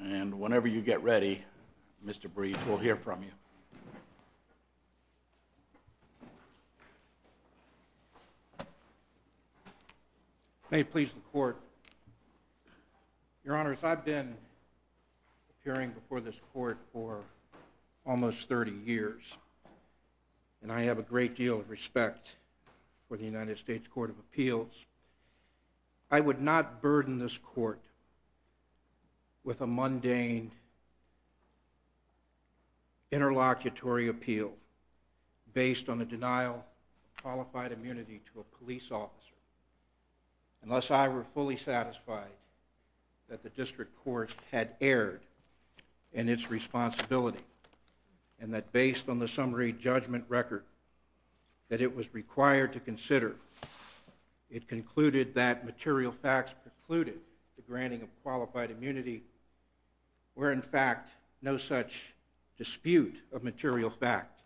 And whenever you get ready, Mr. Breach, we'll hear from you. May it please the Court. Your Honors, I've been appearing before this Court for almost 30 years, and I have a great deal of respect for the United States Court of Appeals, I would not burden this Court with a mundane interlocutory appeal based on a denial of qualified immunity to a police officer unless I were fully satisfied that the District Court had erred in its responsibility and that based on the summary judgment record that it was required to consider, it concluded that material facts precluded the granting of qualified immunity where in fact no such dispute of material fact,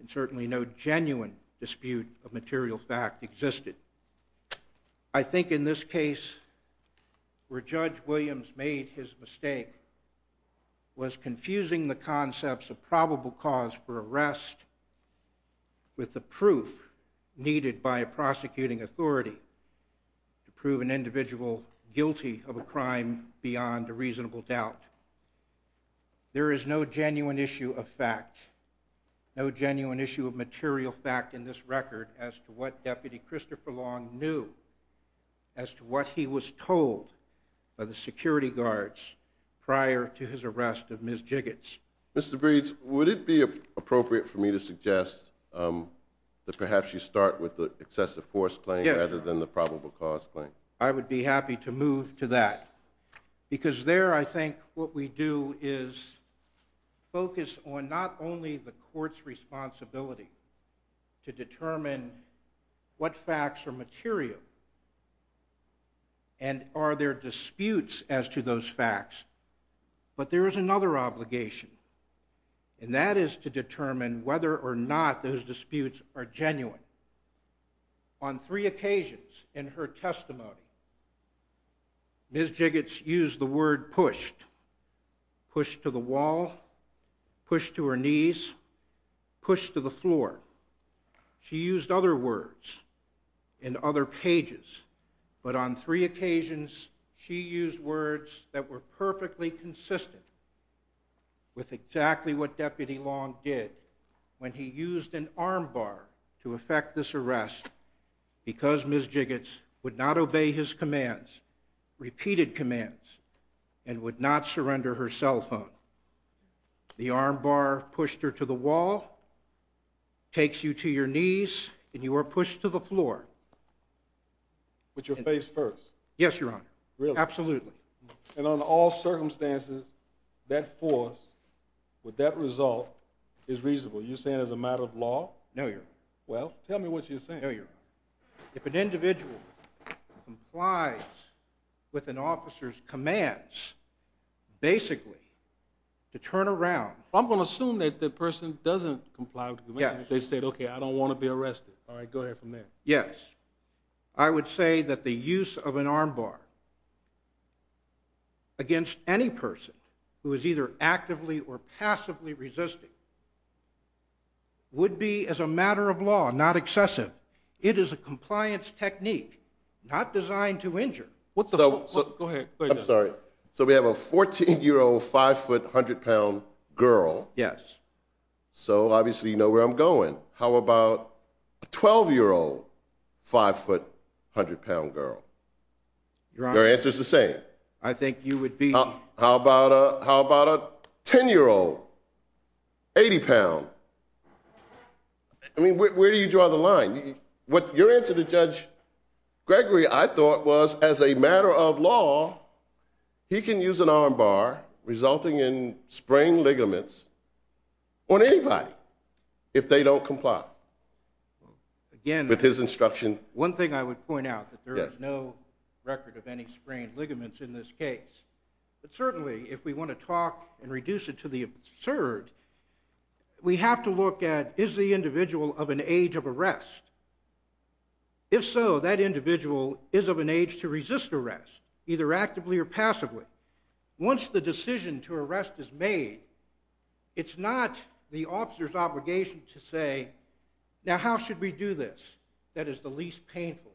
and certainly no genuine dispute of material fact existed. I think in this case where Judge Williams made his mistake with the proof needed by a prosecuting authority to prove an individual guilty of a crime beyond a reasonable doubt, there is no genuine issue of fact, no genuine issue of material fact in this record as to what Deputy Christopher Long knew, as to what he was told by the security guards prior to his arrest of Ms. Jiggets. Mr. Breeds, would it be appropriate for me to suggest that perhaps you start with the excessive force claim rather than the probable cause claim? I would be happy to move to that, because there I think what we do is focus on not only the Court's responsibility to determine what facts are material and are there disputes as to those facts, but there is another obligation, and that is to determine whether or not those disputes are genuine. On three occasions in her testimony, Ms. Jiggets used the word pushed, pushed to the wall, pushed to her knees, pushed to the floor. She used other words in other pages, but on three occasions she used words that were perfectly consistent with exactly what Deputy Long did when he used an arm bar to effect this arrest because Ms. Jiggets would not obey his commands, repeated commands, and would not surrender her cell phone. The arm bar pushed her to the wall, takes you to your knees, and you are pushed to the floor. With your face first? Yes, Your Honor. Really? Absolutely. And on all circumstances, that force with that result is reasonable. You're saying as a matter of law? No, Your Honor. Well, tell me what you're saying. No, Your Honor. If an individual complies with an officer's commands, basically to turn around... I'm going to assume that the person doesn't comply with the command. They said, okay, I don't want to be arrested. All right, go ahead from there. Yes. I would say that the use of an arm bar against any person who is either actively or passively resisting would be as a matter of law not excessive. It is a compliance technique not designed to injure. What the... Go ahead. I'm sorry. So we have a 14-year-old, 5-foot, 100-pound girl. Yes. So obviously you know where I'm going. How about a 12-year-old, 5-foot, 100-pound girl? Your Honor... Your answer is the same. I think you would be... How about a 10-year-old, 80-pound? I mean, where do you draw the line? Your answer to Judge Gregory, I thought, was as a matter of law, he can use an arm bar resulting in sprained ligaments on anybody if they don't comply with his instruction. Again, one thing I would point out, that there is no record of any sprained ligaments in this case. But certainly if we want to talk and reduce it to the absurd, we have to look at, is the individual of an age of arrest? If so, that individual is of an age to resist arrest, either actively or passively. Once the decision to arrest is made, it's not the officer's obligation to say, now how should we do this that is the least painful,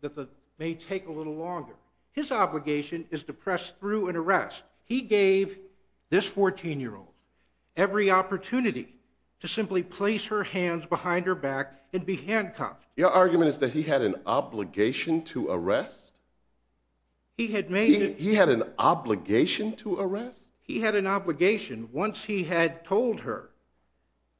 that may take a little longer. His obligation is to press through an arrest. He gave this 14-year-old every opportunity to simply place her hands behind her back and be handcuffed. Your argument is that he had an obligation to arrest? He had made... He had an obligation to arrest? He had an obligation once he had told her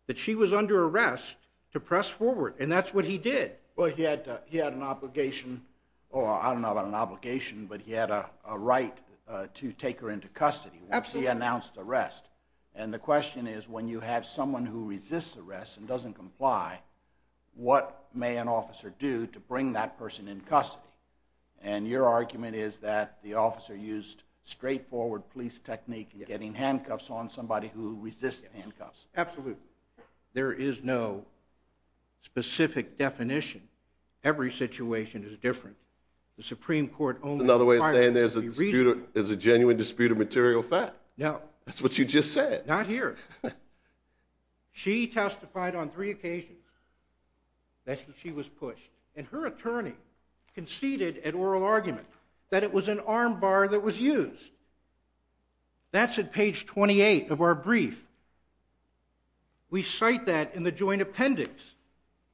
that she was under arrest to press forward, and that's what he did. Well, he had an obligation, or I don't know about an obligation, but he had a right to take her into custody once he announced arrest. And the question is, when you have someone who resists arrest and doesn't comply, what may an officer do to bring that person in custody? And your argument is that the officer used straightforward police technique in getting handcuffs on somebody who resists handcuffs. Absolutely. There is no specific definition. Every situation is different. There's another way of saying there's a dispute, there's a genuine dispute of material fact. No. That's what you just said. Not here. She testified on three occasions that she was pushed, and her attorney conceded an oral argument that it was an arm bar that was used. That's at page 28 of our brief. We cite that in the joint appendix.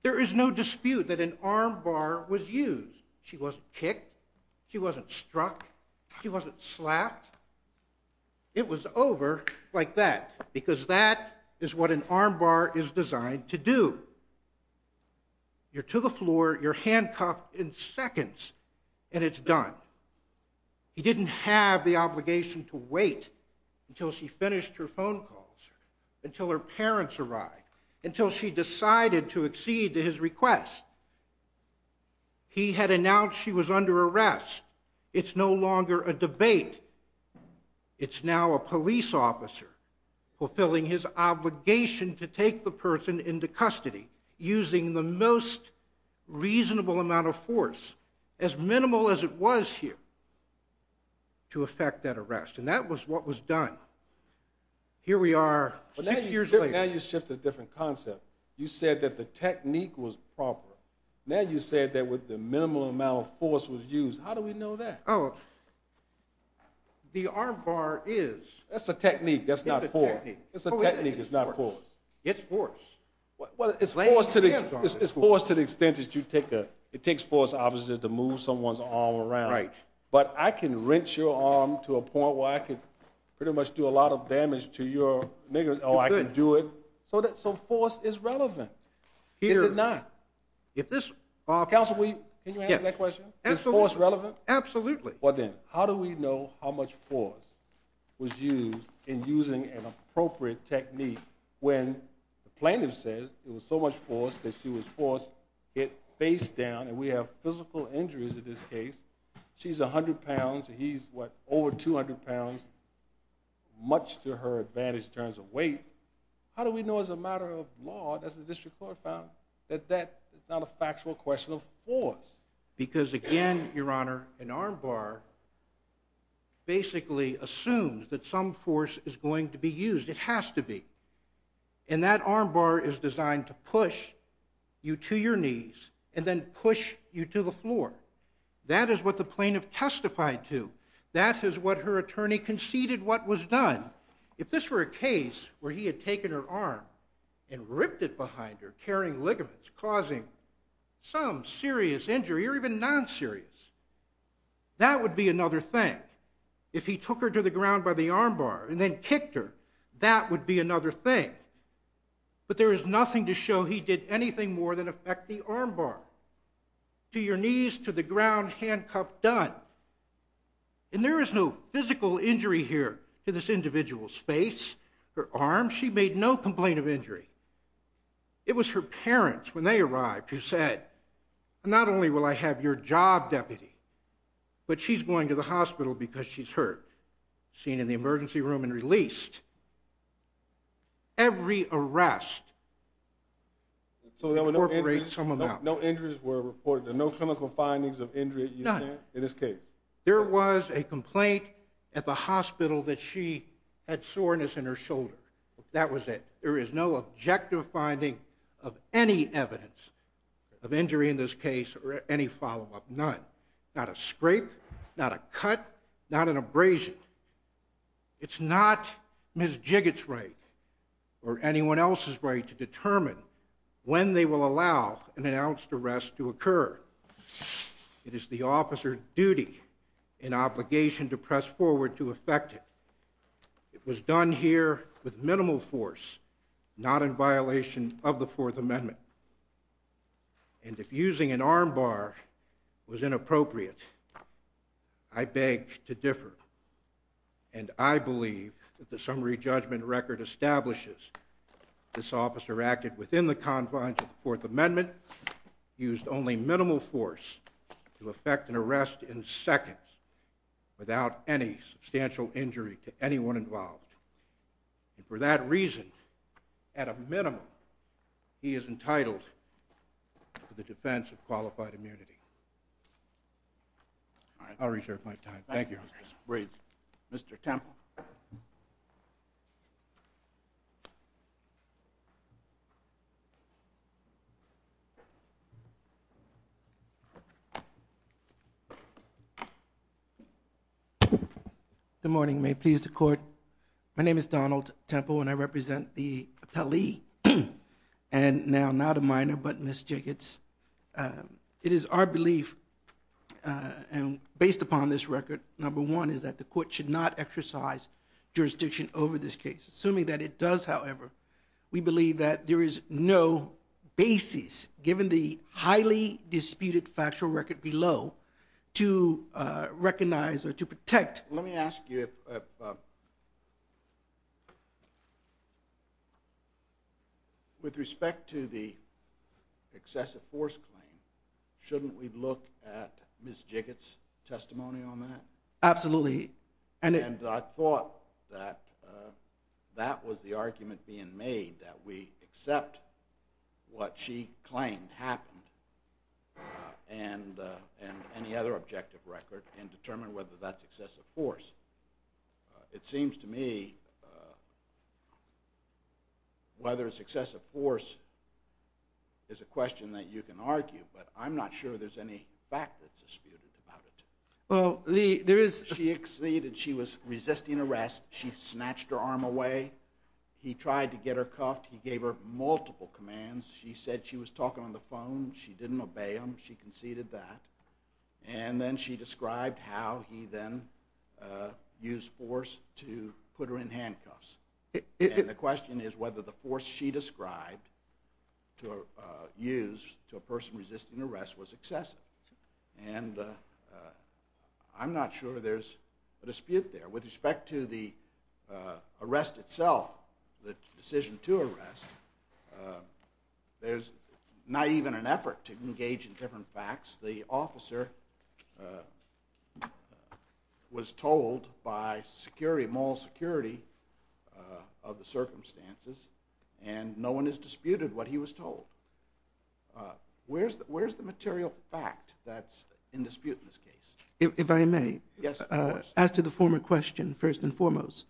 There is no dispute that an arm bar was used. She wasn't kicked, she wasn't struck, she wasn't slapped. It was over like that, because that is what an arm bar is designed to do. You're to the floor, you're handcuffed in seconds, and it's done. He didn't have the obligation to wait until she finished her phone calls, until her parents arrived, until she decided to accede to his request. He had announced she was under arrest. It's no longer a debate. It's now a police officer fulfilling his obligation to take the person into custody, using the most reasonable amount of force, as minimal as it was here, to effect that arrest. And that was what was done. Here we are six years later. Now you shift to a different concept. You said that the technique was proper. Now you said that the minimal amount of force was used. How do we know that? The arm bar is... That's a technique, that's not force. It's a technique, it's not force. It's force. It's force to the extent that you take a... It takes force, obviously, to move someone's arm around. But I can wrench your arm to a point where I can pretty much do a lot of damage to your... Oh, I can do it. So force is relevant. Is it not? Counsel, can you answer that question? Is force relevant? Absolutely. Well, then, how do we know how much force was used in using an appropriate technique when the plaintiff says there was so much force that she was forced to get face down, and we have physical injuries in this case. She's 100 pounds, and he's, what, over 200 pounds. Much to her advantage in terms of weight. How do we know as a matter of law, as the district court found, that that is not a factual question of force? Because, again, Your Honor, an arm bar basically assumes that some force is going to be used. It has to be. And that arm bar is designed to push you to your knees and then push you to the floor. That is what the plaintiff testified to. That is what her attorney conceded what was done. If this were a case where he had taken her arm and ripped it behind her, carrying ligaments, causing some serious injury, or even non-serious, that would be another thing. If he took her to the ground by the arm bar and then kicked her, that would be another thing. But there is nothing to show he did anything more than affect the arm bar. To your knees, to the ground, handcuffed, done. And there is no physical injury here to this individual's face, her arm. She made no complaint of injury. It was her parents, when they arrived, who said, not only will I have your job, deputy, but she's going to the hospital because she's hurt. Seen in the emergency room and released. Every arrest incorporates some amount. No injuries were reported, no clinical findings of injury in this case. There was a complaint at the hospital that she had soreness in her shoulder. That was it. There is no objective finding of any evidence of injury in this case or any follow-up, none. Not a scrape, not a cut, not an abrasion. It's not Ms. Jigot's right or anyone else's right to determine when they will allow an announced arrest to occur. It is the officer's duty and obligation to press forward to affect it. It was done here with minimal force, not in violation of the Fourth Amendment. And if using an arm bar was inappropriate, I beg to differ. And I believe that the summary judgment record establishes this officer acted within the confines of the Fourth Amendment, used only minimal force to effect an arrest in seconds without any substantial injury to anyone involved. And for that reason, at a minimum, he is entitled to the defense of qualified immunity. I'll reserve my time. Thank you. Mr. Temple. Good morning. May it please the Court. My name is Donald Temple, and I represent the appellee, and now not a minor, but Ms. Jigot's. It is our belief, and based upon this record, number one, is that the Court should not exercise jurisdiction over this case. Assuming that it does, however, we believe that there is no basis, given the highly disputed factual record below, to recognize or to protect... Let me ask you if... With respect to the excessive force claim, shouldn't we look at Ms. Jigot's testimony on that? Absolutely. And I thought that that was the argument being made, that we accept what she claimed happened, and any other objective record, and determine whether that's excessive force. It seems to me... whether it's excessive force is a question that you can argue, but I'm not sure there's any fact that's disputed about it. Well, there is... She was resisting arrest, she snatched her arm away, he tried to get her cuffed, he gave her multiple commands. She said she was talking on the phone, she didn't obey him, she conceded that. And then she described how he then used force to put her in handcuffs. And the question is whether the force she described used to a person resisting arrest was excessive. And I'm not sure there's a dispute there. With respect to the arrest itself, the decision to arrest, there's not even an effort to engage in different facts. The officer was told by mall security of the circumstances, and no one has disputed what he was told. Where's the material fact that's in dispute in this case? If I may? Yes, of course. As to the former question, first and foremost,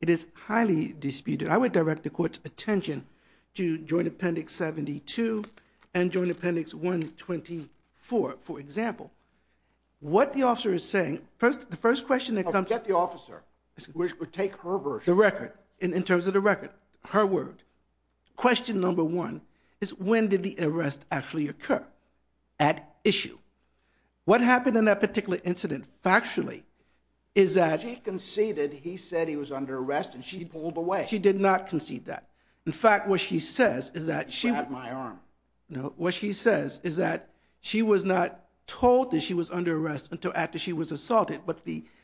it is highly disputed. I would direct the Court's attention to Joint Appendix 72 and Joint Appendix 124. For example, what the officer is saying, the first question that comes up... Forget the officer. Take her version. The record, in terms of the record, her word. Question number one is when did the arrest actually occur? At issue. What happened in that particular incident factually is that... She conceded he said he was under arrest and she pulled away. She did not concede that. In fact, what she says is that... She had my arm. No, what she says is that she was not told that she was under arrest until after she was assaulted, but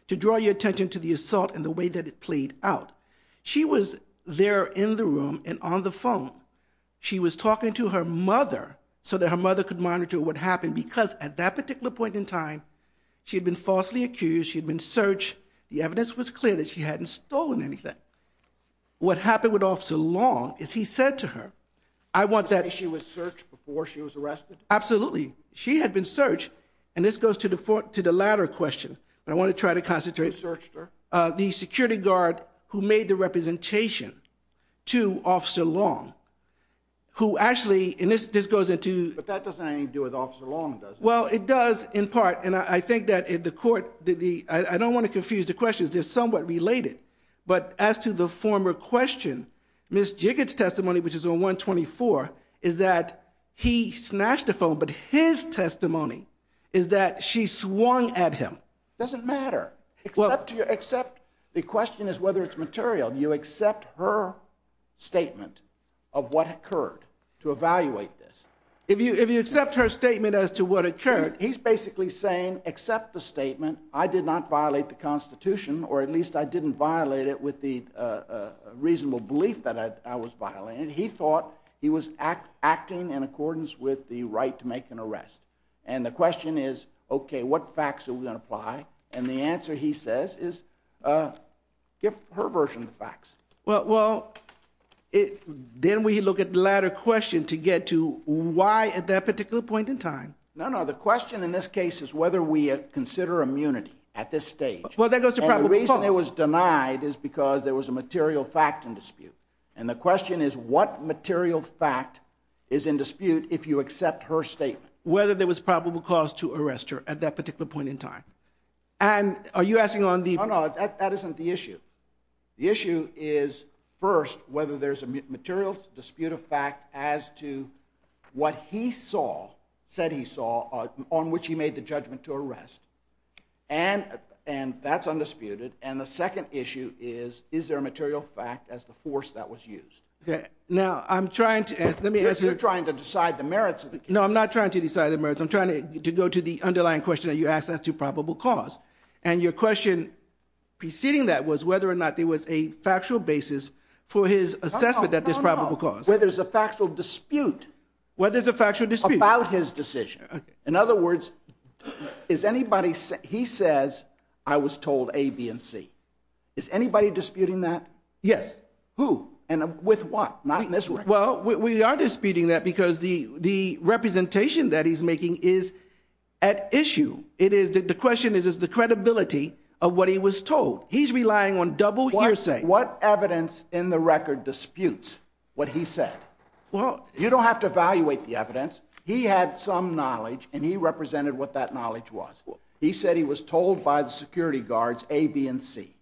to draw your attention to the assault and the way that it played out. She was there in the room and on the phone. She was talking to her mother so that her mother could monitor what happened because at that particular point in time, she had been falsely accused, she had been searched. The evidence was clear that she hadn't stolen anything. What happened with Officer Long is he said to her, I want that... She was searched before she was arrested? Absolutely. She had been searched, and this goes to the latter question, but I want to try to concentrate. Who searched her? The security guard who made the representation to Officer Long, who actually, and this goes into... But that doesn't have anything to do with Officer Long, does it? Well, it does in part, and I think that the court... I don't want to confuse the questions. They're somewhat related, but as to the former question, Ms. Jigot's testimony, which is on 124, is that he snatched the phone, but his testimony is that she swung at him. It doesn't matter. Except the question is whether it's material. Do you accept her statement of what occurred to evaluate this? If you accept her statement as to what occurred, he's basically saying, accept the statement, I did not violate the Constitution, or at least I didn't violate it with the reasonable belief that I was violating it. He thought he was acting in accordance with the right to make an arrest. And the question is, okay, what facts are we going to apply? And the answer, he says, is give her version of the facts. Well, didn't we look at the latter question to get to why at that particular point in time? No, no, the question in this case is whether we consider immunity at this stage. And the reason it was denied is because there was a material fact in dispute. And the question is what material fact is in dispute if you accept her statement? Whether there was probable cause to arrest her at that particular point in time. And are you asking on the... No, no, that isn't the issue. The issue is, first, whether there's a material dispute of fact as to what he saw, said he saw, on which he made the judgment to arrest. And that's undisputed. And the second issue is, is there a material fact as the force that was used? Now, I'm trying to... You're trying to decide the merits of the case. No, I'm not trying to decide the merits. I'm trying to go to the underlying question that you asked as to probable cause. And your question preceding that was whether or not there was a factual basis for his assessment that there's probable cause. Whether there's a factual dispute... Whether there's a factual dispute. ...about his decision. In other words, is anybody... He says, I was told A, B, and C. Is anybody disputing that? Yes. Who? And with what? Not in this record. Well, we are disputing that because the representation that he's making is at issue. The question is, is the credibility of what he was told. He's relying on double hearsay. What evidence in the record disputes what he said? Well... You don't have to evaluate the evidence. He had some knowledge, and he represented what that knowledge was. He said he was told by the security guards A, B, and C.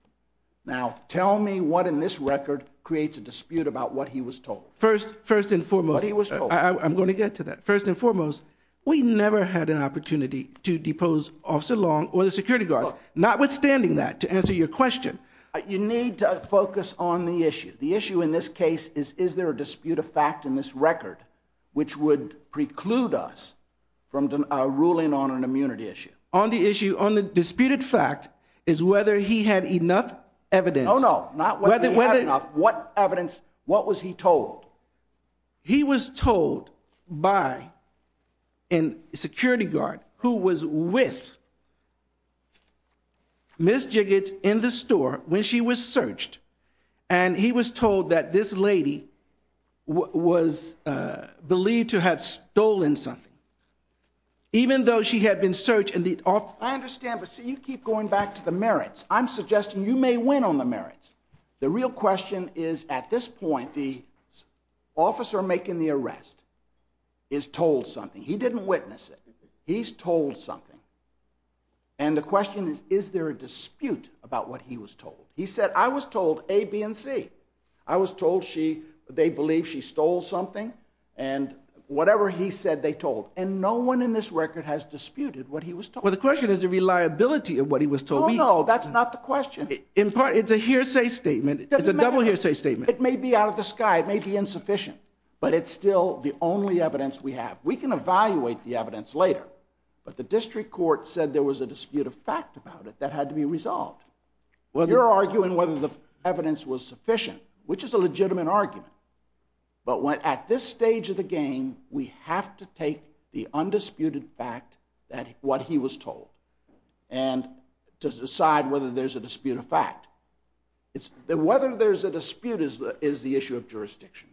Now, tell me what in this record creates a dispute about what he was told. First and foremost... What he was told. I'm going to get to that. First and foremost, we never had an opportunity to depose Officer Long or the security guards, notwithstanding that, to answer your question. You need to focus on the issue. The issue in this case is, is there a dispute of fact in this record which would preclude us from ruling on an immunity issue? On the issue, on the disputed fact, is whether he had enough evidence. No, no, not whether he had enough. What evidence, what was he told? He was told by a security guard who was with Ms. Jiggits in the store when she was searched, and he was told that this lady was believed to have stolen something. Even though she had been searched... I understand, but see, you keep going back to the merits. I'm suggesting you may win on the merits. The real question is, at this point, the officer making the arrest is told something. He didn't witness it. He's told something. And the question is, is there a dispute about what he was told? He said, I was told A, B, and C. I was told she, they believe she stole something, and whatever he said, they told. And no one in this record has disputed what he was told. Well, the question is the reliability of what he was told. Oh, no, that's not the question. In part, it's a hearsay statement. It's a double hearsay statement. It may be out of the sky, it may be insufficient, but it's still the only evidence we have. We can evaluate the evidence later, but the district court said there was a dispute of fact about it that had to be resolved. You're arguing whether the evidence was sufficient, which is a legitimate argument. But at this stage of the game, we have to take the undisputed fact, what he was told, and decide whether there's a dispute of fact. Whether there's a dispute is the issue of jurisdiction,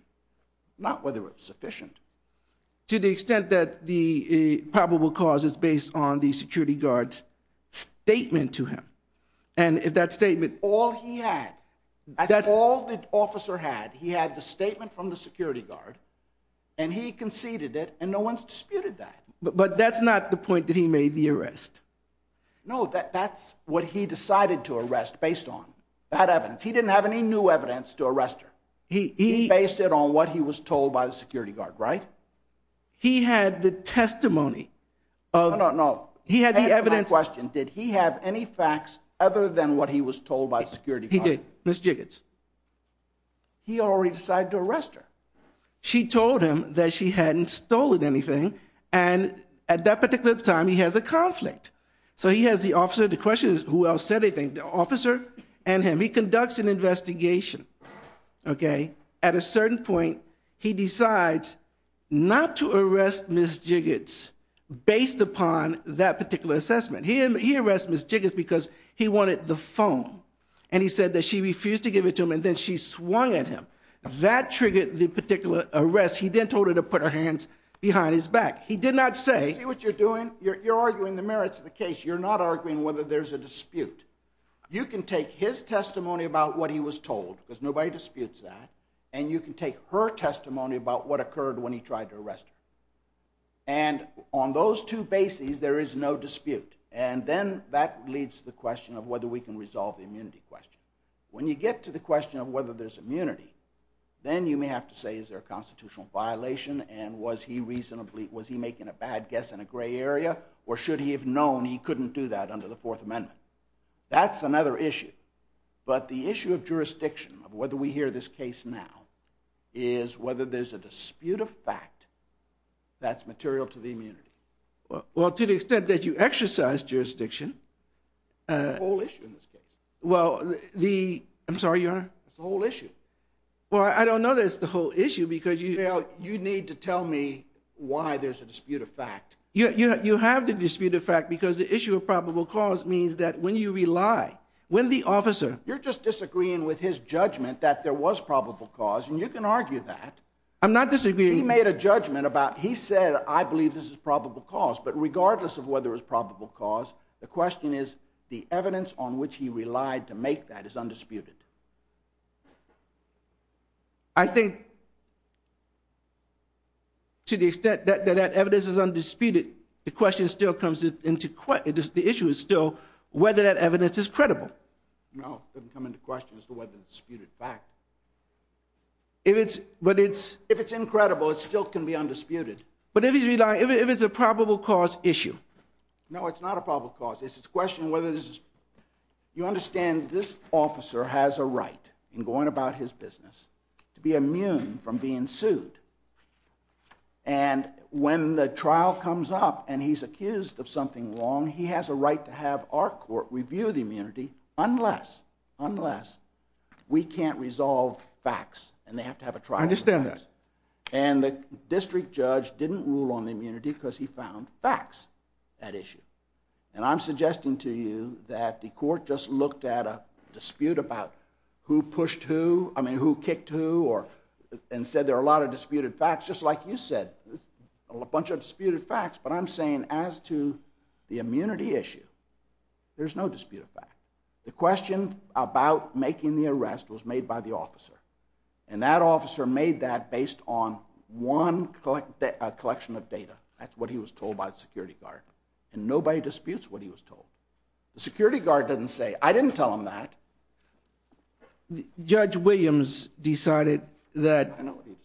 not whether it's sufficient. To the extent that the probable cause is based on the security guard's statement to him. And if that statement... All he had. That's all the officer had. He had the statement from the security guard, and he conceded it, and no one's disputed that. But that's not the point that he made the arrest. No, that's what he decided to arrest, based on that evidence. He didn't have any new evidence to arrest her. He based it on what he was told by the security guard, right? He had the testimony of... No, no, no. He had the evidence... That's my question. Did he have any facts other than what he was told by the security guard? He did. Ms. Jiggins. He already decided to arrest her. She told him that she hadn't stolen anything, and at that particular time, he has a conflict. So he has the officer. The question is, who else said anything? The officer and him. He conducts an investigation, okay? At a certain point, he decides not to arrest Ms. Jiggins, based upon that particular assessment. He arrested Ms. Jiggins because he wanted the phone, and he said that she refused to give it to him, and then she swung at him. That triggered the particular arrest. He then told her to put her hands behind his back. He did not say... See what you're doing? You're arguing the merits of the case. You're not arguing whether there's a dispute. You can take his testimony about what he was told, because nobody disputes that, and you can take her testimony about what occurred when he tried to arrest her. And on those two bases, there is no dispute. And then that leads to the question of whether we can resolve the immunity question. When you get to the question of whether there's immunity, then you may have to say, is there a constitutional violation, and was he making a bad guess in a gray area, or should he have known he couldn't do that under the Fourth Amendment? That's another issue. But the issue of jurisdiction, of whether we hear this case now, is whether there's a dispute of fact that's material to the immunity. Well, to the extent that you exercise jurisdiction... It's a whole issue in this case. Well, the... I'm sorry, Your Honor? It's a whole issue. Well, I don't know that it's the whole issue, because you... Well, you need to tell me why there's a dispute of fact. You have the dispute of fact because the issue of probable cause means that when you rely, when the officer... You're just disagreeing with his judgment that there was probable cause, and you can argue that. I'm not disagreeing. He made a judgment about... He said, I believe this is probable cause. But regardless of whether it's probable cause, the question is, the evidence on which he relied to make that is undisputed. I think... to the extent that that evidence is undisputed, the question still comes into... The issue is still whether that evidence is credible. No, it doesn't come into question as to whether it's disputed fact. If it's... But it's... If it's incredible, it still can be undisputed. But if he's relying... If it's a probable cause issue... No, it's not a probable cause. It's a question of whether this is... You understand this officer has a right, in going about his business, to be immune from being sued. And when the trial comes up and he's accused of something wrong, he has a right to have our court review the immunity unless, unless we can't resolve facts and they have to have a trial. I understand that. And the district judge didn't rule on the immunity because he found facts at issue. And I'm suggesting to you that the court just looked at a dispute about who pushed who, I mean, who kicked who, and said there are a lot of disputed facts, just like you said, a bunch of disputed facts. But I'm saying as to the immunity issue, there's no disputed fact. The question about making the arrest was made by the officer. And that officer made that based on one collection of data. That's what he was told by the security guard. And nobody disputes what he was told. The security guard doesn't say, I didn't tell him that. Judge Williams decided that... I know what he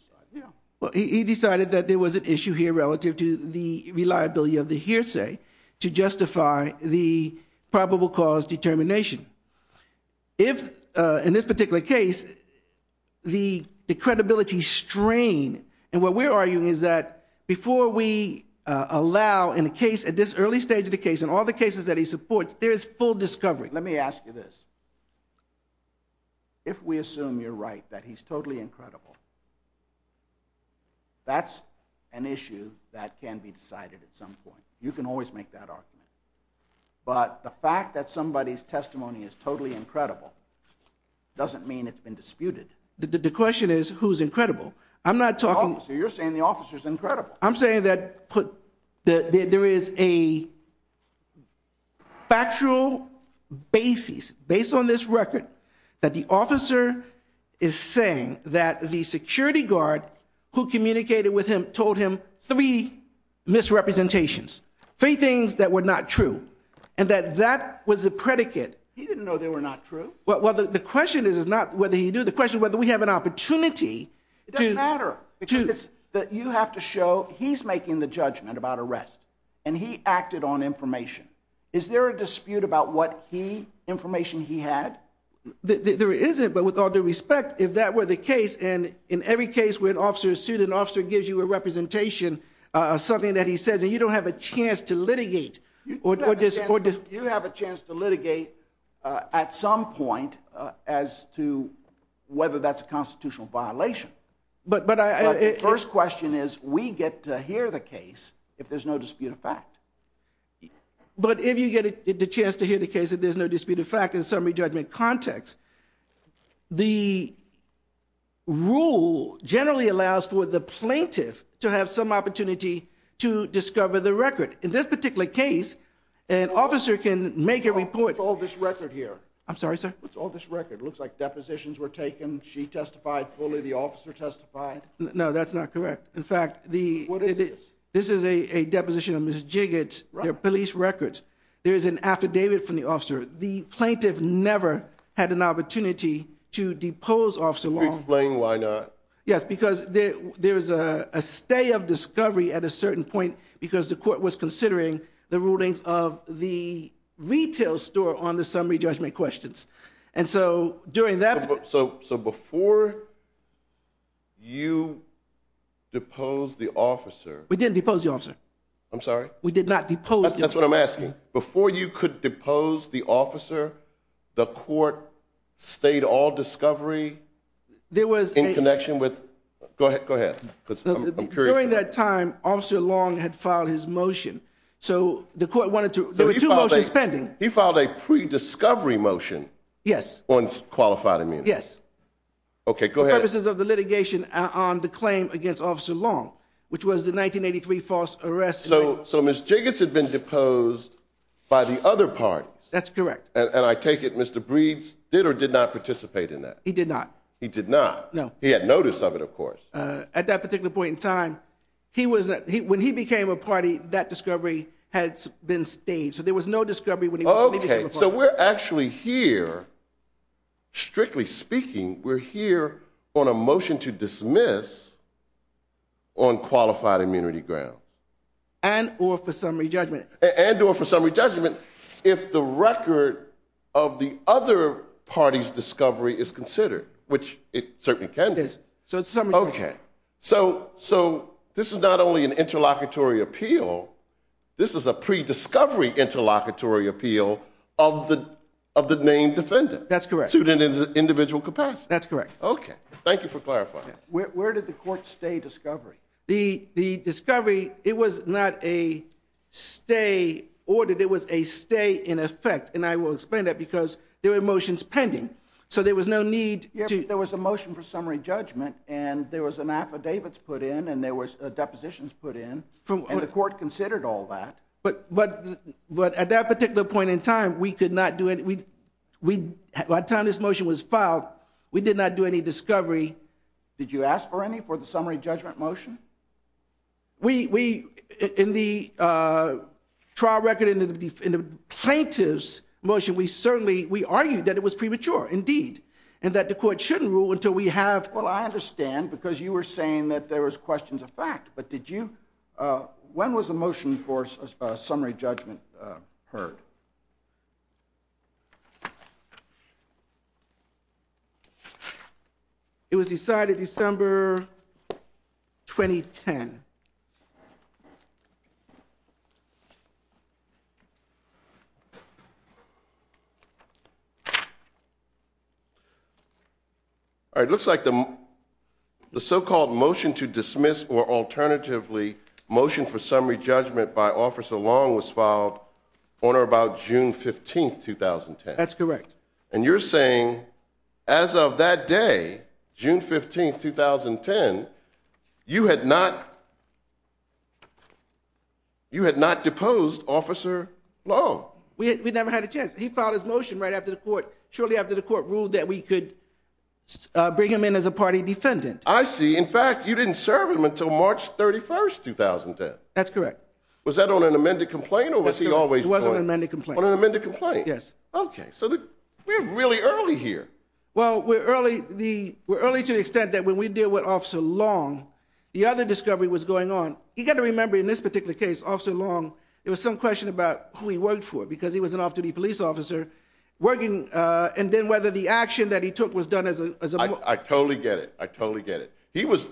decided. He decided that there was an issue here relative to the reliability of the hearsay to justify the probable cause determination. If, in this particular case, the credibility strain, and what we're arguing is that before we allow in a case, at this early stage of the case, in all the cases that he supports, there is full discovery. Let me ask you this. If we assume you're right, that he's totally incredible, that's an issue that can be decided at some point. You can always make that argument. But the fact that somebody's testimony is totally incredible doesn't mean it's been disputed. The question is who's incredible. I'm not talking... Oh, so you're saying the officer's incredible. I'm saying that there is a... basis, based on this record, that the officer is saying that the security guard who communicated with him told him three misrepresentations, three things that were not true, and that that was a predicate. He didn't know they were not true. Well, the question is not whether he knew. The question is whether we have an opportunity to... It doesn't matter, because you have to show he's making the judgment about arrest, and he acted on information. Is there a dispute about what key information he had? There isn't, but with all due respect, if that were the case, and in every case where an officer is sued, an officer gives you a representation of something that he says, and you don't have a chance to litigate. You have a chance to litigate at some point as to whether that's a constitutional violation. we get to hear the case if there's no dispute of fact. But if you get the chance to hear the case if there's no dispute of fact in a summary judgment context, the rule generally allows for the plaintiff to have some opportunity to discover the record. In this particular case, an officer can make a report... What's all this record here? I'm sorry, sir? What's all this record? It looks like depositions were taken. She testified fully. The officer testified. No, that's not correct. In fact, the... What is this? This is a deposition of Ms. Jigot's police records. There is an affidavit from the officer. The plaintiff never had an opportunity to depose Officer Long. Can you explain why not? Yes, because there is a stay of discovery at a certain point because the court was considering the rulings of the retail store on the summary judgment questions. And so during that... So before you depose the officer... We didn't depose the officer. I'm sorry? We did not depose the officer. That's what I'm asking. Before you could depose the officer, the court stayed all discovery... There was a... In connection with... Go ahead, go ahead. Because I'm curious. During that time, Officer Long had filed his motion. So the court wanted to... There were two motions pending. He filed a pre-discovery motion... Yes. On qualified immunity. Yes. Okay, go ahead. For purposes of the litigation on the claim against Officer Long, which was the 1983 false arrest... So Ms. Jiggins had been deposed by the other parties. That's correct. And I take it Mr. Breeds did or did not participate in that? He did not. He did not? No. He had notice of it, of course. At that particular point in time, he was... When he became a party, that discovery had been stayed. So there was no discovery when he was... Okay, so we're actually here, strictly speaking, we're here on a motion to dismiss on qualified immunity grounds. And or for summary judgment. And or for summary judgment if the record of the other party's discovery is considered, which it certainly can be. Okay, so this is not only an interlocutory appeal, this is a pre-discovery interlocutory appeal of the named defendant. That's correct. Suited in individual capacity. That's correct. Okay, thank you for clarifying. Where did the court stay discovery? The discovery, it was not a stay ordered, it was a stay in effect. And I will explain that because there were motions pending. So there was no need to... There was a motion for summary judgment and there was an affidavits put in and there was depositions put in. And the court considered all that. But at that particular point in time, we could not do any... By the time this motion was filed, we did not do any discovery and we did not do any... Did you ask for any for the summary judgment motion? We... In the trial record and the plaintiff's motion, we certainly... We argued that it was premature indeed and that the court shouldn't rule until we have... Well, I understand because you were saying that there was questions of fact, but did you... When was the motion for summary judgment heard? It was decided December 2010. All right. It looks like the so-called motion to dismiss or alternatively motion for summary judgment by Officer Long was filed on or about June 15th, 2010. That's correct. And you're saying as of that day, June 15th, 2010, you had not... You had not deposed Officer Long. We never had a chance. He filed his motion right after the court, shortly after the court ruled that we could bring him in as a party defendant. I see. In fact, you didn't serve him until March 31st, 2010. That's correct. Was that on an amended complaint or was he always... It was on an amended complaint. On an amended complaint. Yes. Okay. So we're really early here. Well, we're early to the extent that when we deal with Officer Long, the other discovery was going on. You got to remember in this particular case, Officer Long, there was some question about who he worked for because he was an off-duty police officer working and then whether the action that he took was done as a... I totally get it. I totally get it. He was...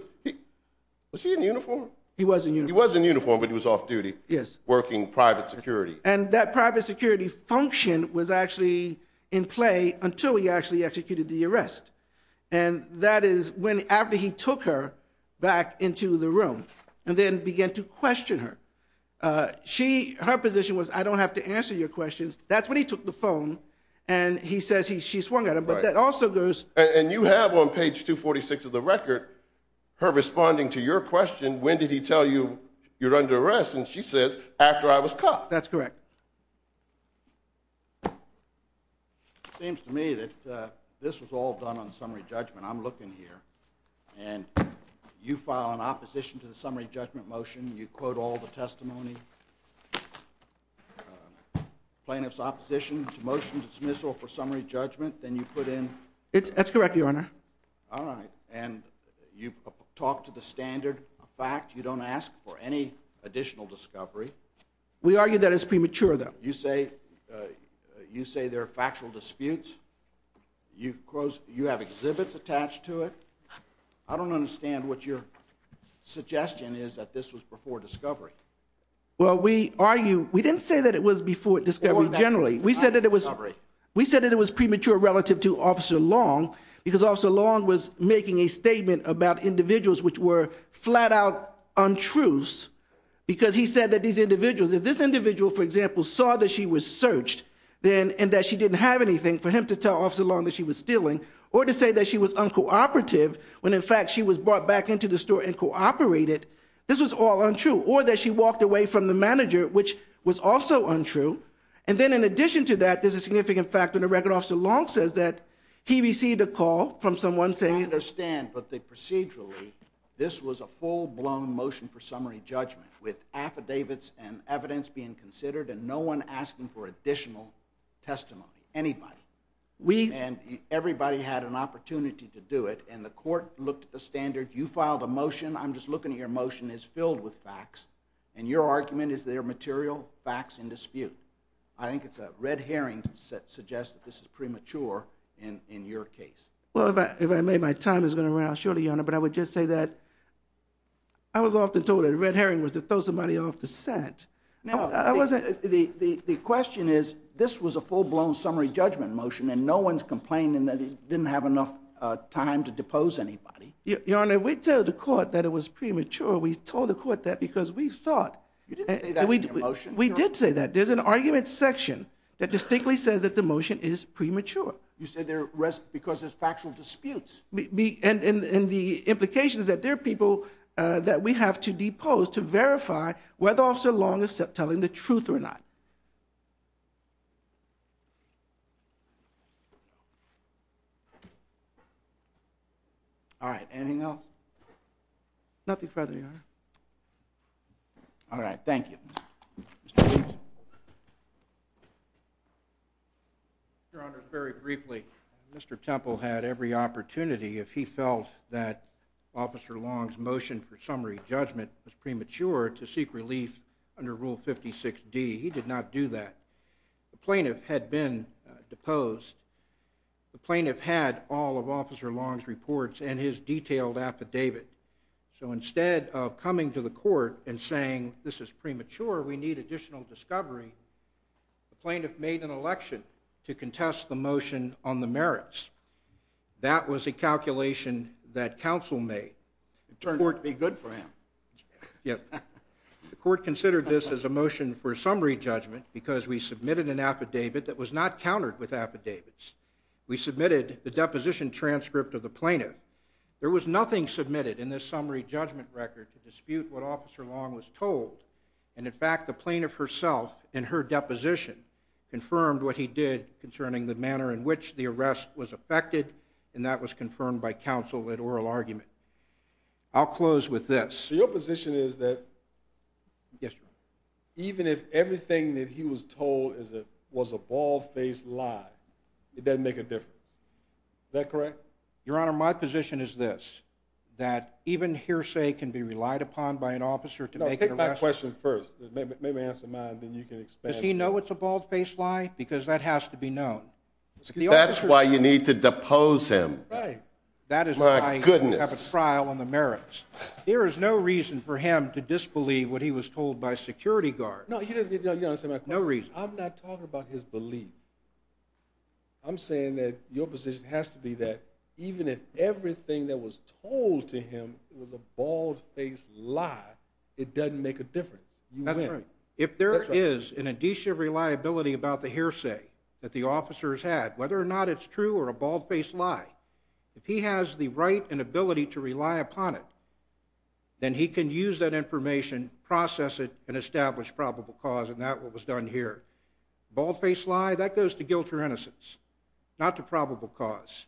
Was he in uniform? He was in uniform. He was in uniform, but he was off-duty working private security. And that private security function was actually in play until he actually executed the arrest. And that is after he took her back into the room and then began to question her. Her position was, I don't have to answer your questions. That's when he took the phone and he says she swung at him. But that also goes... And you have on page 246 of the record her responding to your question, when did he tell you you're under arrest? And she says, after I was caught. That's correct. It seems to me that this was all done on summary judgment. I'm looking here. And you file an opposition to the summary judgment motion. You quote all the testimony. Plaintiff's opposition to motion dismissal for summary judgment. Then you put in... That's correct, Your Honor. All right. And you talk to the standard fact. You don't ask for any additional discovery. We argue that it's premature, though. You say there are factual disputes. You have exhibits attached to it. I don't understand what your suggestion is that this was before discovery. Well, we argue... We didn't say that it was before discovery generally. We said that it was premature relative to Officer Long because Officer Long was making a statement about individuals which were flat out untruths because he said that these individuals... If this individual, for example, saw that she was searched and that she didn't have anything, for him to tell Officer Long that she was stealing or to say that she was uncooperative when in fact she was brought back into the store and cooperated, this was all untrue. Or that she walked away from the manager, which was also untrue. And then in addition to that, there's a significant factor in the record Officer Long says that he received a call from someone saying... I understand, but procedurally this was a full-blown motion for summary judgment with affidavits and evidence being considered and no one asking for additional testimony. Anybody. And everybody had an opportunity to do it and the court looked at the standard. You filed a motion. I'm just looking at your motion. It's filled with facts. And your argument is they're material facts in dispute. I think it's a red herring to suggest Well, if I may, my time is going to run out shortly, Your Honor, but I would just say that I was often told that a red herring was to throw somebody off the set. The question is, this was a full-blown summary judgment motion and no one's complaining that he didn't have enough time to depose anybody. Your Honor, we told the court that it was premature. We told the court that because we thought... You didn't say that in your motion. We did say that. There's an argument section that distinctly says that the motion is premature. You said because there's factual disputes. And the implication is that there are people that we have to depose to verify whether Officer Long is telling the truth or not. All right, anything else? Nothing further, Your Honor. All right, thank you. Your Honor, very briefly, Mr. Temple had every opportunity, if he felt that Officer Long's motion for summary judgment was premature, to seek relief under Rule 56D. He did not do that. The plaintiff had been deposed. The plaintiff had all of Officer Long's reports and his detailed affidavit. So instead of coming to the court and saying this is premature, we need additional discovery, the plaintiff made an election to contest the motion on the merits. That was a calculation that counsel made. It turned out to be good for him. Yes. The court considered this as a motion for summary judgment because we submitted an affidavit that was not countered with affidavits. We submitted the deposition transcript of the plaintiff. There was nothing submitted in this summary judgment record to dispute what Officer Long was told. And, in fact, the plaintiff herself in her deposition confirmed what he did concerning the manner in which the arrest was affected, and that was confirmed by counsel at oral argument. I'll close with this. Your position is that... Yes, Your Honor. Even if everything that he was told was a bald-faced lie, it doesn't make a difference. Is that correct? Your Honor, my position is this, that even hearsay can be relied upon by an officer to make an arrest... No, take my question first. Maybe answer mine, then you can expand. Does he know it's a bald-faced lie? Because that has to be known. That's why you need to depose him. Right. My goodness. That is why you have a trial on the merits. There is no reason for him to disbelieve what he was told by security guards. No, Your Honor, take my question. No reason. I'm not talking about his belief. I'm saying that your position has to be that even if everything that was told to him was a bald-faced lie, it doesn't make a difference. If there is an addition of reliability about the hearsay that the officer has had, whether or not it's true or a bald-faced lie, if he has the right and ability to rely upon it, then he can use that information, process it, and establish probable cause, and that's what was done here. Bald-faced lie, that goes to guilt or innocence, not to probable cause.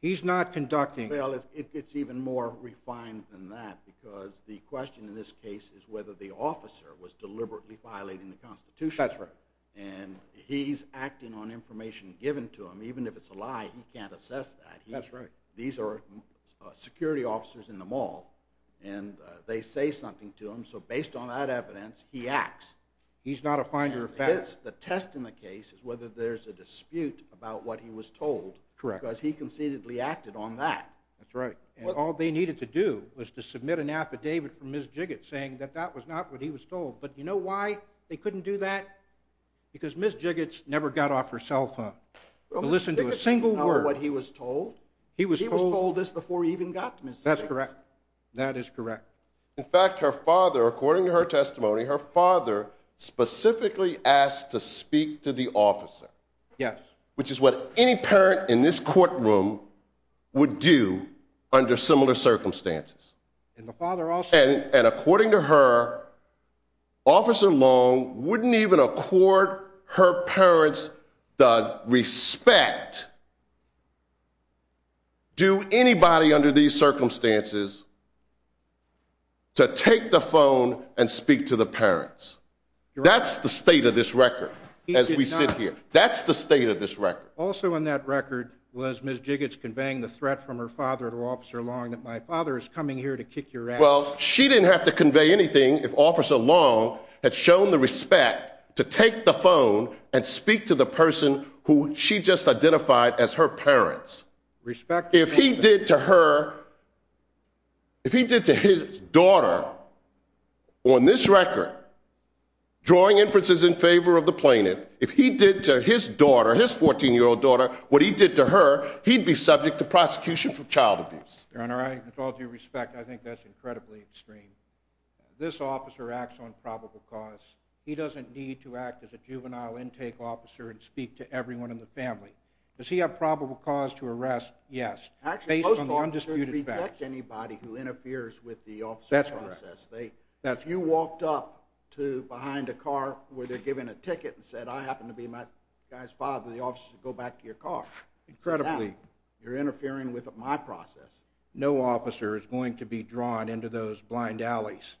He's not conducting... Well, it gets even more refined than that because the question in this case is whether the officer was deliberately violating the Constitution. That's right. And he's acting on information given to him. Even if it's a lie, he can't assess that. That's right. These are security officers in the mall, and they say something to him, so based on that evidence, he acts. He's not a finder of facts. The test in the case is whether there's a dispute about what he was told... Correct. ...because he conceitedly acted on that. That's right. All they needed to do was to submit an affidavit from Ms. Jiggits saying that that was not what he was told. But you know why they couldn't do that? Because Ms. Jiggits never got off her cell phone to listen to a single word. Ms. Jiggits didn't know what he was told. He was told this before he even got to Ms. Jiggits. That's correct. That is correct. In fact, her father, according to her testimony, her father specifically asked to speak to the officer... Yes. ...which is what any parent in this courtroom would do under similar circumstances. And the father also... And according to her, Officer Long wouldn't even accord her parents the respect... ...do anybody under these circumstances... ...to take the phone and speak to the parents. That's the state of this record as we sit here. He did not... That's the state of this record. Also on that record was Ms. Jiggits conveying the threat from her father to Officer Long that my father is coming here to kick your ass. Well, she didn't have to convey anything if Officer Long had shown the respect to take the phone and speak to the person who she just identified as her parents. Respect... If he did to her... If he did to his daughter on this record, drawing inferences in favor of the plaintiff, if he did to his daughter, his 14-year-old daughter, what he did to her, he'd be subject to prosecution for child abuse. Your Honor, with all due respect, I think that's incredibly extreme. This officer acts on probable cause. He doesn't need to act as a juvenile intake officer and speak to everyone in the family. Does he have probable cause to arrest? Yes. Based on the undisputed facts. Actually, most officers reject anybody who interferes with the officer's process. That's correct. You walked up to behind a car where they're giving a ticket and said, I happen to be my guy's father. The officers would go back to your car. Incredibly. You're interfering with my process. No officer is going to be drawn into those blind alleys.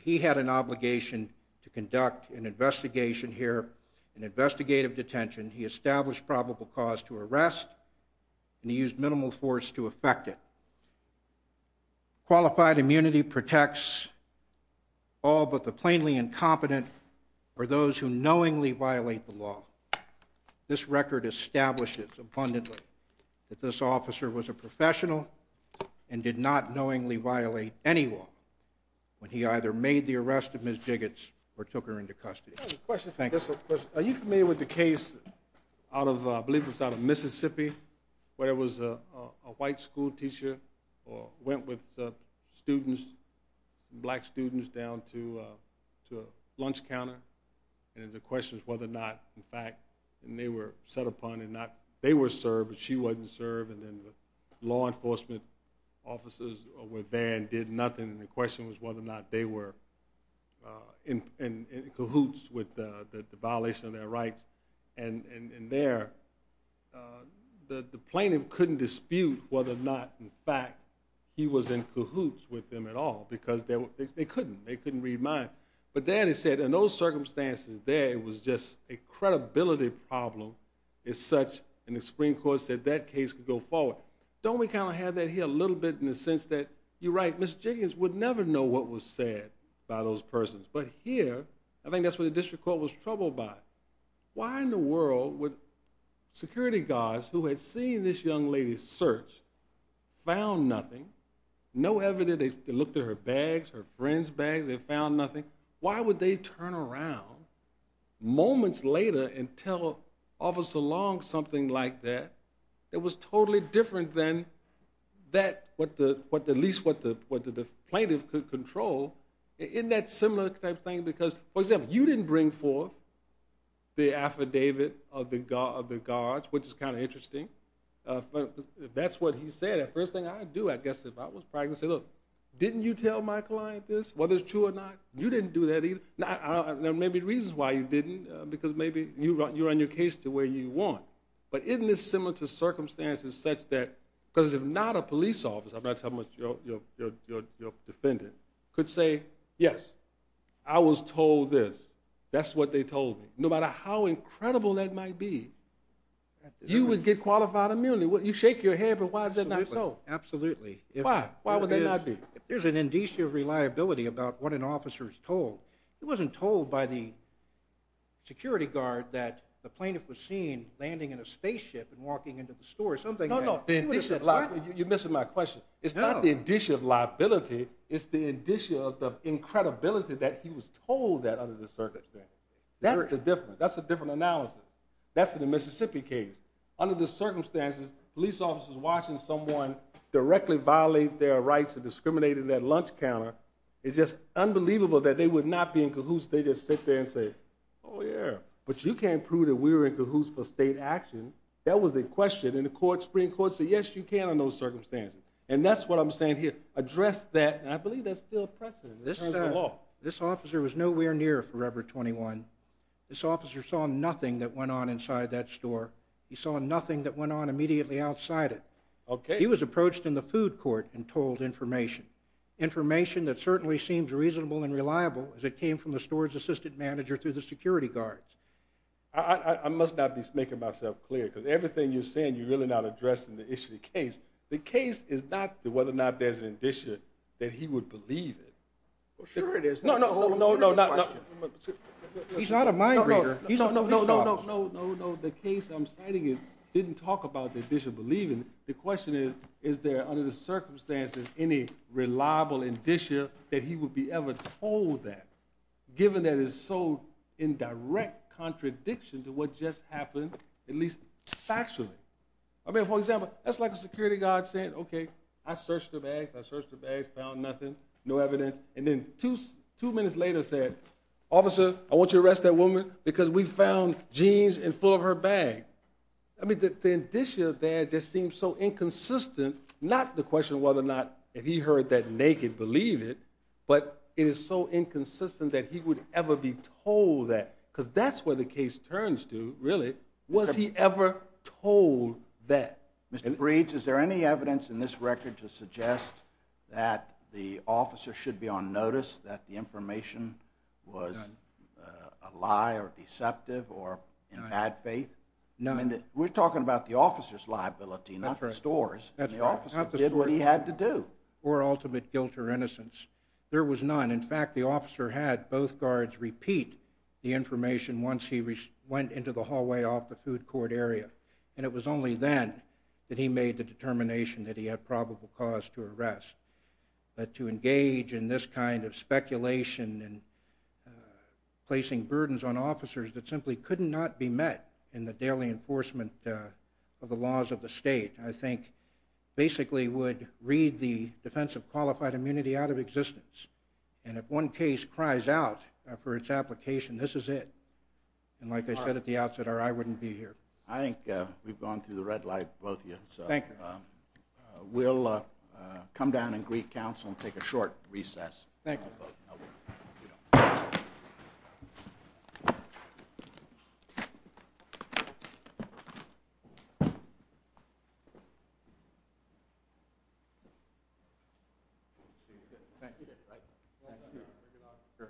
He had an obligation to conduct an investigation here, an investigative detention. He established probable cause to arrest, and he used minimal force to effect it. Qualified immunity protects all but the plainly incompetent or those who knowingly violate the law. This record establishes abundantly that this officer was a professional and did not knowingly violate any law when he either made the arrest of Ms. Jiggits or took her into custody. I have a question. Are you familiar with the case, I believe it was out of Mississippi, where there was a white schoolteacher who went with students, black students, down to a lunch counter, and the question was whether or not, in fact, they were set upon and they were served, but she wasn't served, and then the law enforcement officers were there and did nothing, and the question was whether or not they were in cahoots with the violation of their rights. And there, the plaintiff couldn't dispute whether or not, in fact, he was in cahoots with them at all because they couldn't. They couldn't read minds. But then he said, in those circumstances there, it was just a credibility problem as such, and the Supreme Court said that case could go forward. Don't we kind of have that here a little bit in the sense that, you're right, Ms. Jiggits would never know what was said by those persons, but here, I think that's what the district court was troubled by. Why in the world would security guards who had seen this young lady searched, found nothing, no evidence, they looked at her bags, her friend's bags, they found nothing. Why would they turn around moments later and tell Officer Long something like that that was totally different than that, at least what the plaintiff could control, in that similar type thing, because, for example, you didn't bring forth the affidavit of the guards, which is kind of interesting. If that's what he said, the first thing I'd do, I guess, if I was pregnant, I'd say, look, didn't you tell my client this, whether it's true or not? You didn't do that either. Now, there may be reasons why you didn't, because maybe you run your case to where you want, but isn't this similar to circumstances such that, because if not a police officer, I'm not talking about your defendant, could say, yes, I was told this. That's what they told me. No matter how incredible that might be, you would get qualified immunity. You shake your head, but why is that not so? Absolutely. Why? Why would that not be? If there's an indicia of reliability about what an officer is told, he wasn't told by the security guard that the plaintiff was seen landing in a spaceship and walking into the store. No, no. You're missing my question. It's not the indicia of liability. It's the indicia of the incredibility that he was told that under the circumstances. That's the difference. That's a different analysis. That's in the Mississippi case. Under the circumstances, police officers watching someone directly violate their rights and discriminate in that lunch counter, it's just unbelievable that they would not be in cahoots. They just sit there and say, oh, yeah. But you can't prove that we were in cahoots for state action. That was the question. And the Supreme Court said, yes, you can under those circumstances. And that's what I'm saying here. Address that. And I believe that's still a precedent in terms of the law. This officer was nowhere near forever 21. This officer saw nothing that went on inside that store. He saw nothing that went on immediately outside it. He was approached in the food court and told information, information that certainly seems reasonable and reliable as it came from the storage assistant manager through the security guards. I must not be making myself clear because everything you're saying you're really not addressing the issue of the case. The case is not whether or not there's an indicia that he would believe it. Well, sure it is. No, no, no, no, no, no. He's not a mind reader. No, no, no, no, no, no, no. The case I'm citing didn't talk about the indicia believing. The question is, is there under the circumstances any reliable indicia that he would be ever told that given that it's so in direct contradiction to what just happened, at least factually. I mean, for example, that's like a security guard saying, okay, I searched the bags, I searched the bags, found nothing. No evidence. And then two minutes later said, officer, I want you to arrest that woman because we found jeans in full of her bag. I mean, the indicia there just seems so inconsistent, not the question of whether or not if he heard that naked, believe it, but it is so inconsistent that he would ever be told that because that's where the case turns to, really. Was he ever told that? Mr. Breeds, is there any evidence in this record to suggest that the officer should be on notice that the information was a lie or deceptive or in bad faith? No. We're talking about the officer's liability, not the store's. The officer did what he had to do. Or ultimate guilt or innocence. There was none. In fact, the officer had both guards repeat the information once he went into the hallway off the food court area, and it was only then that he made the determination that he had probable cause to arrest. But to engage in this kind of speculation and placing burdens on officers that simply could not be met in the daily enforcement of the laws of the state, I think basically would read the defense of qualified immunity out of existence. And if one case cries out for its application, this is it. And like I said at the outset, our eye wouldn't be here. I think we've gone through the red light, both of you. Thank you. We'll come down and greet counsel and take a short recess. Thank you.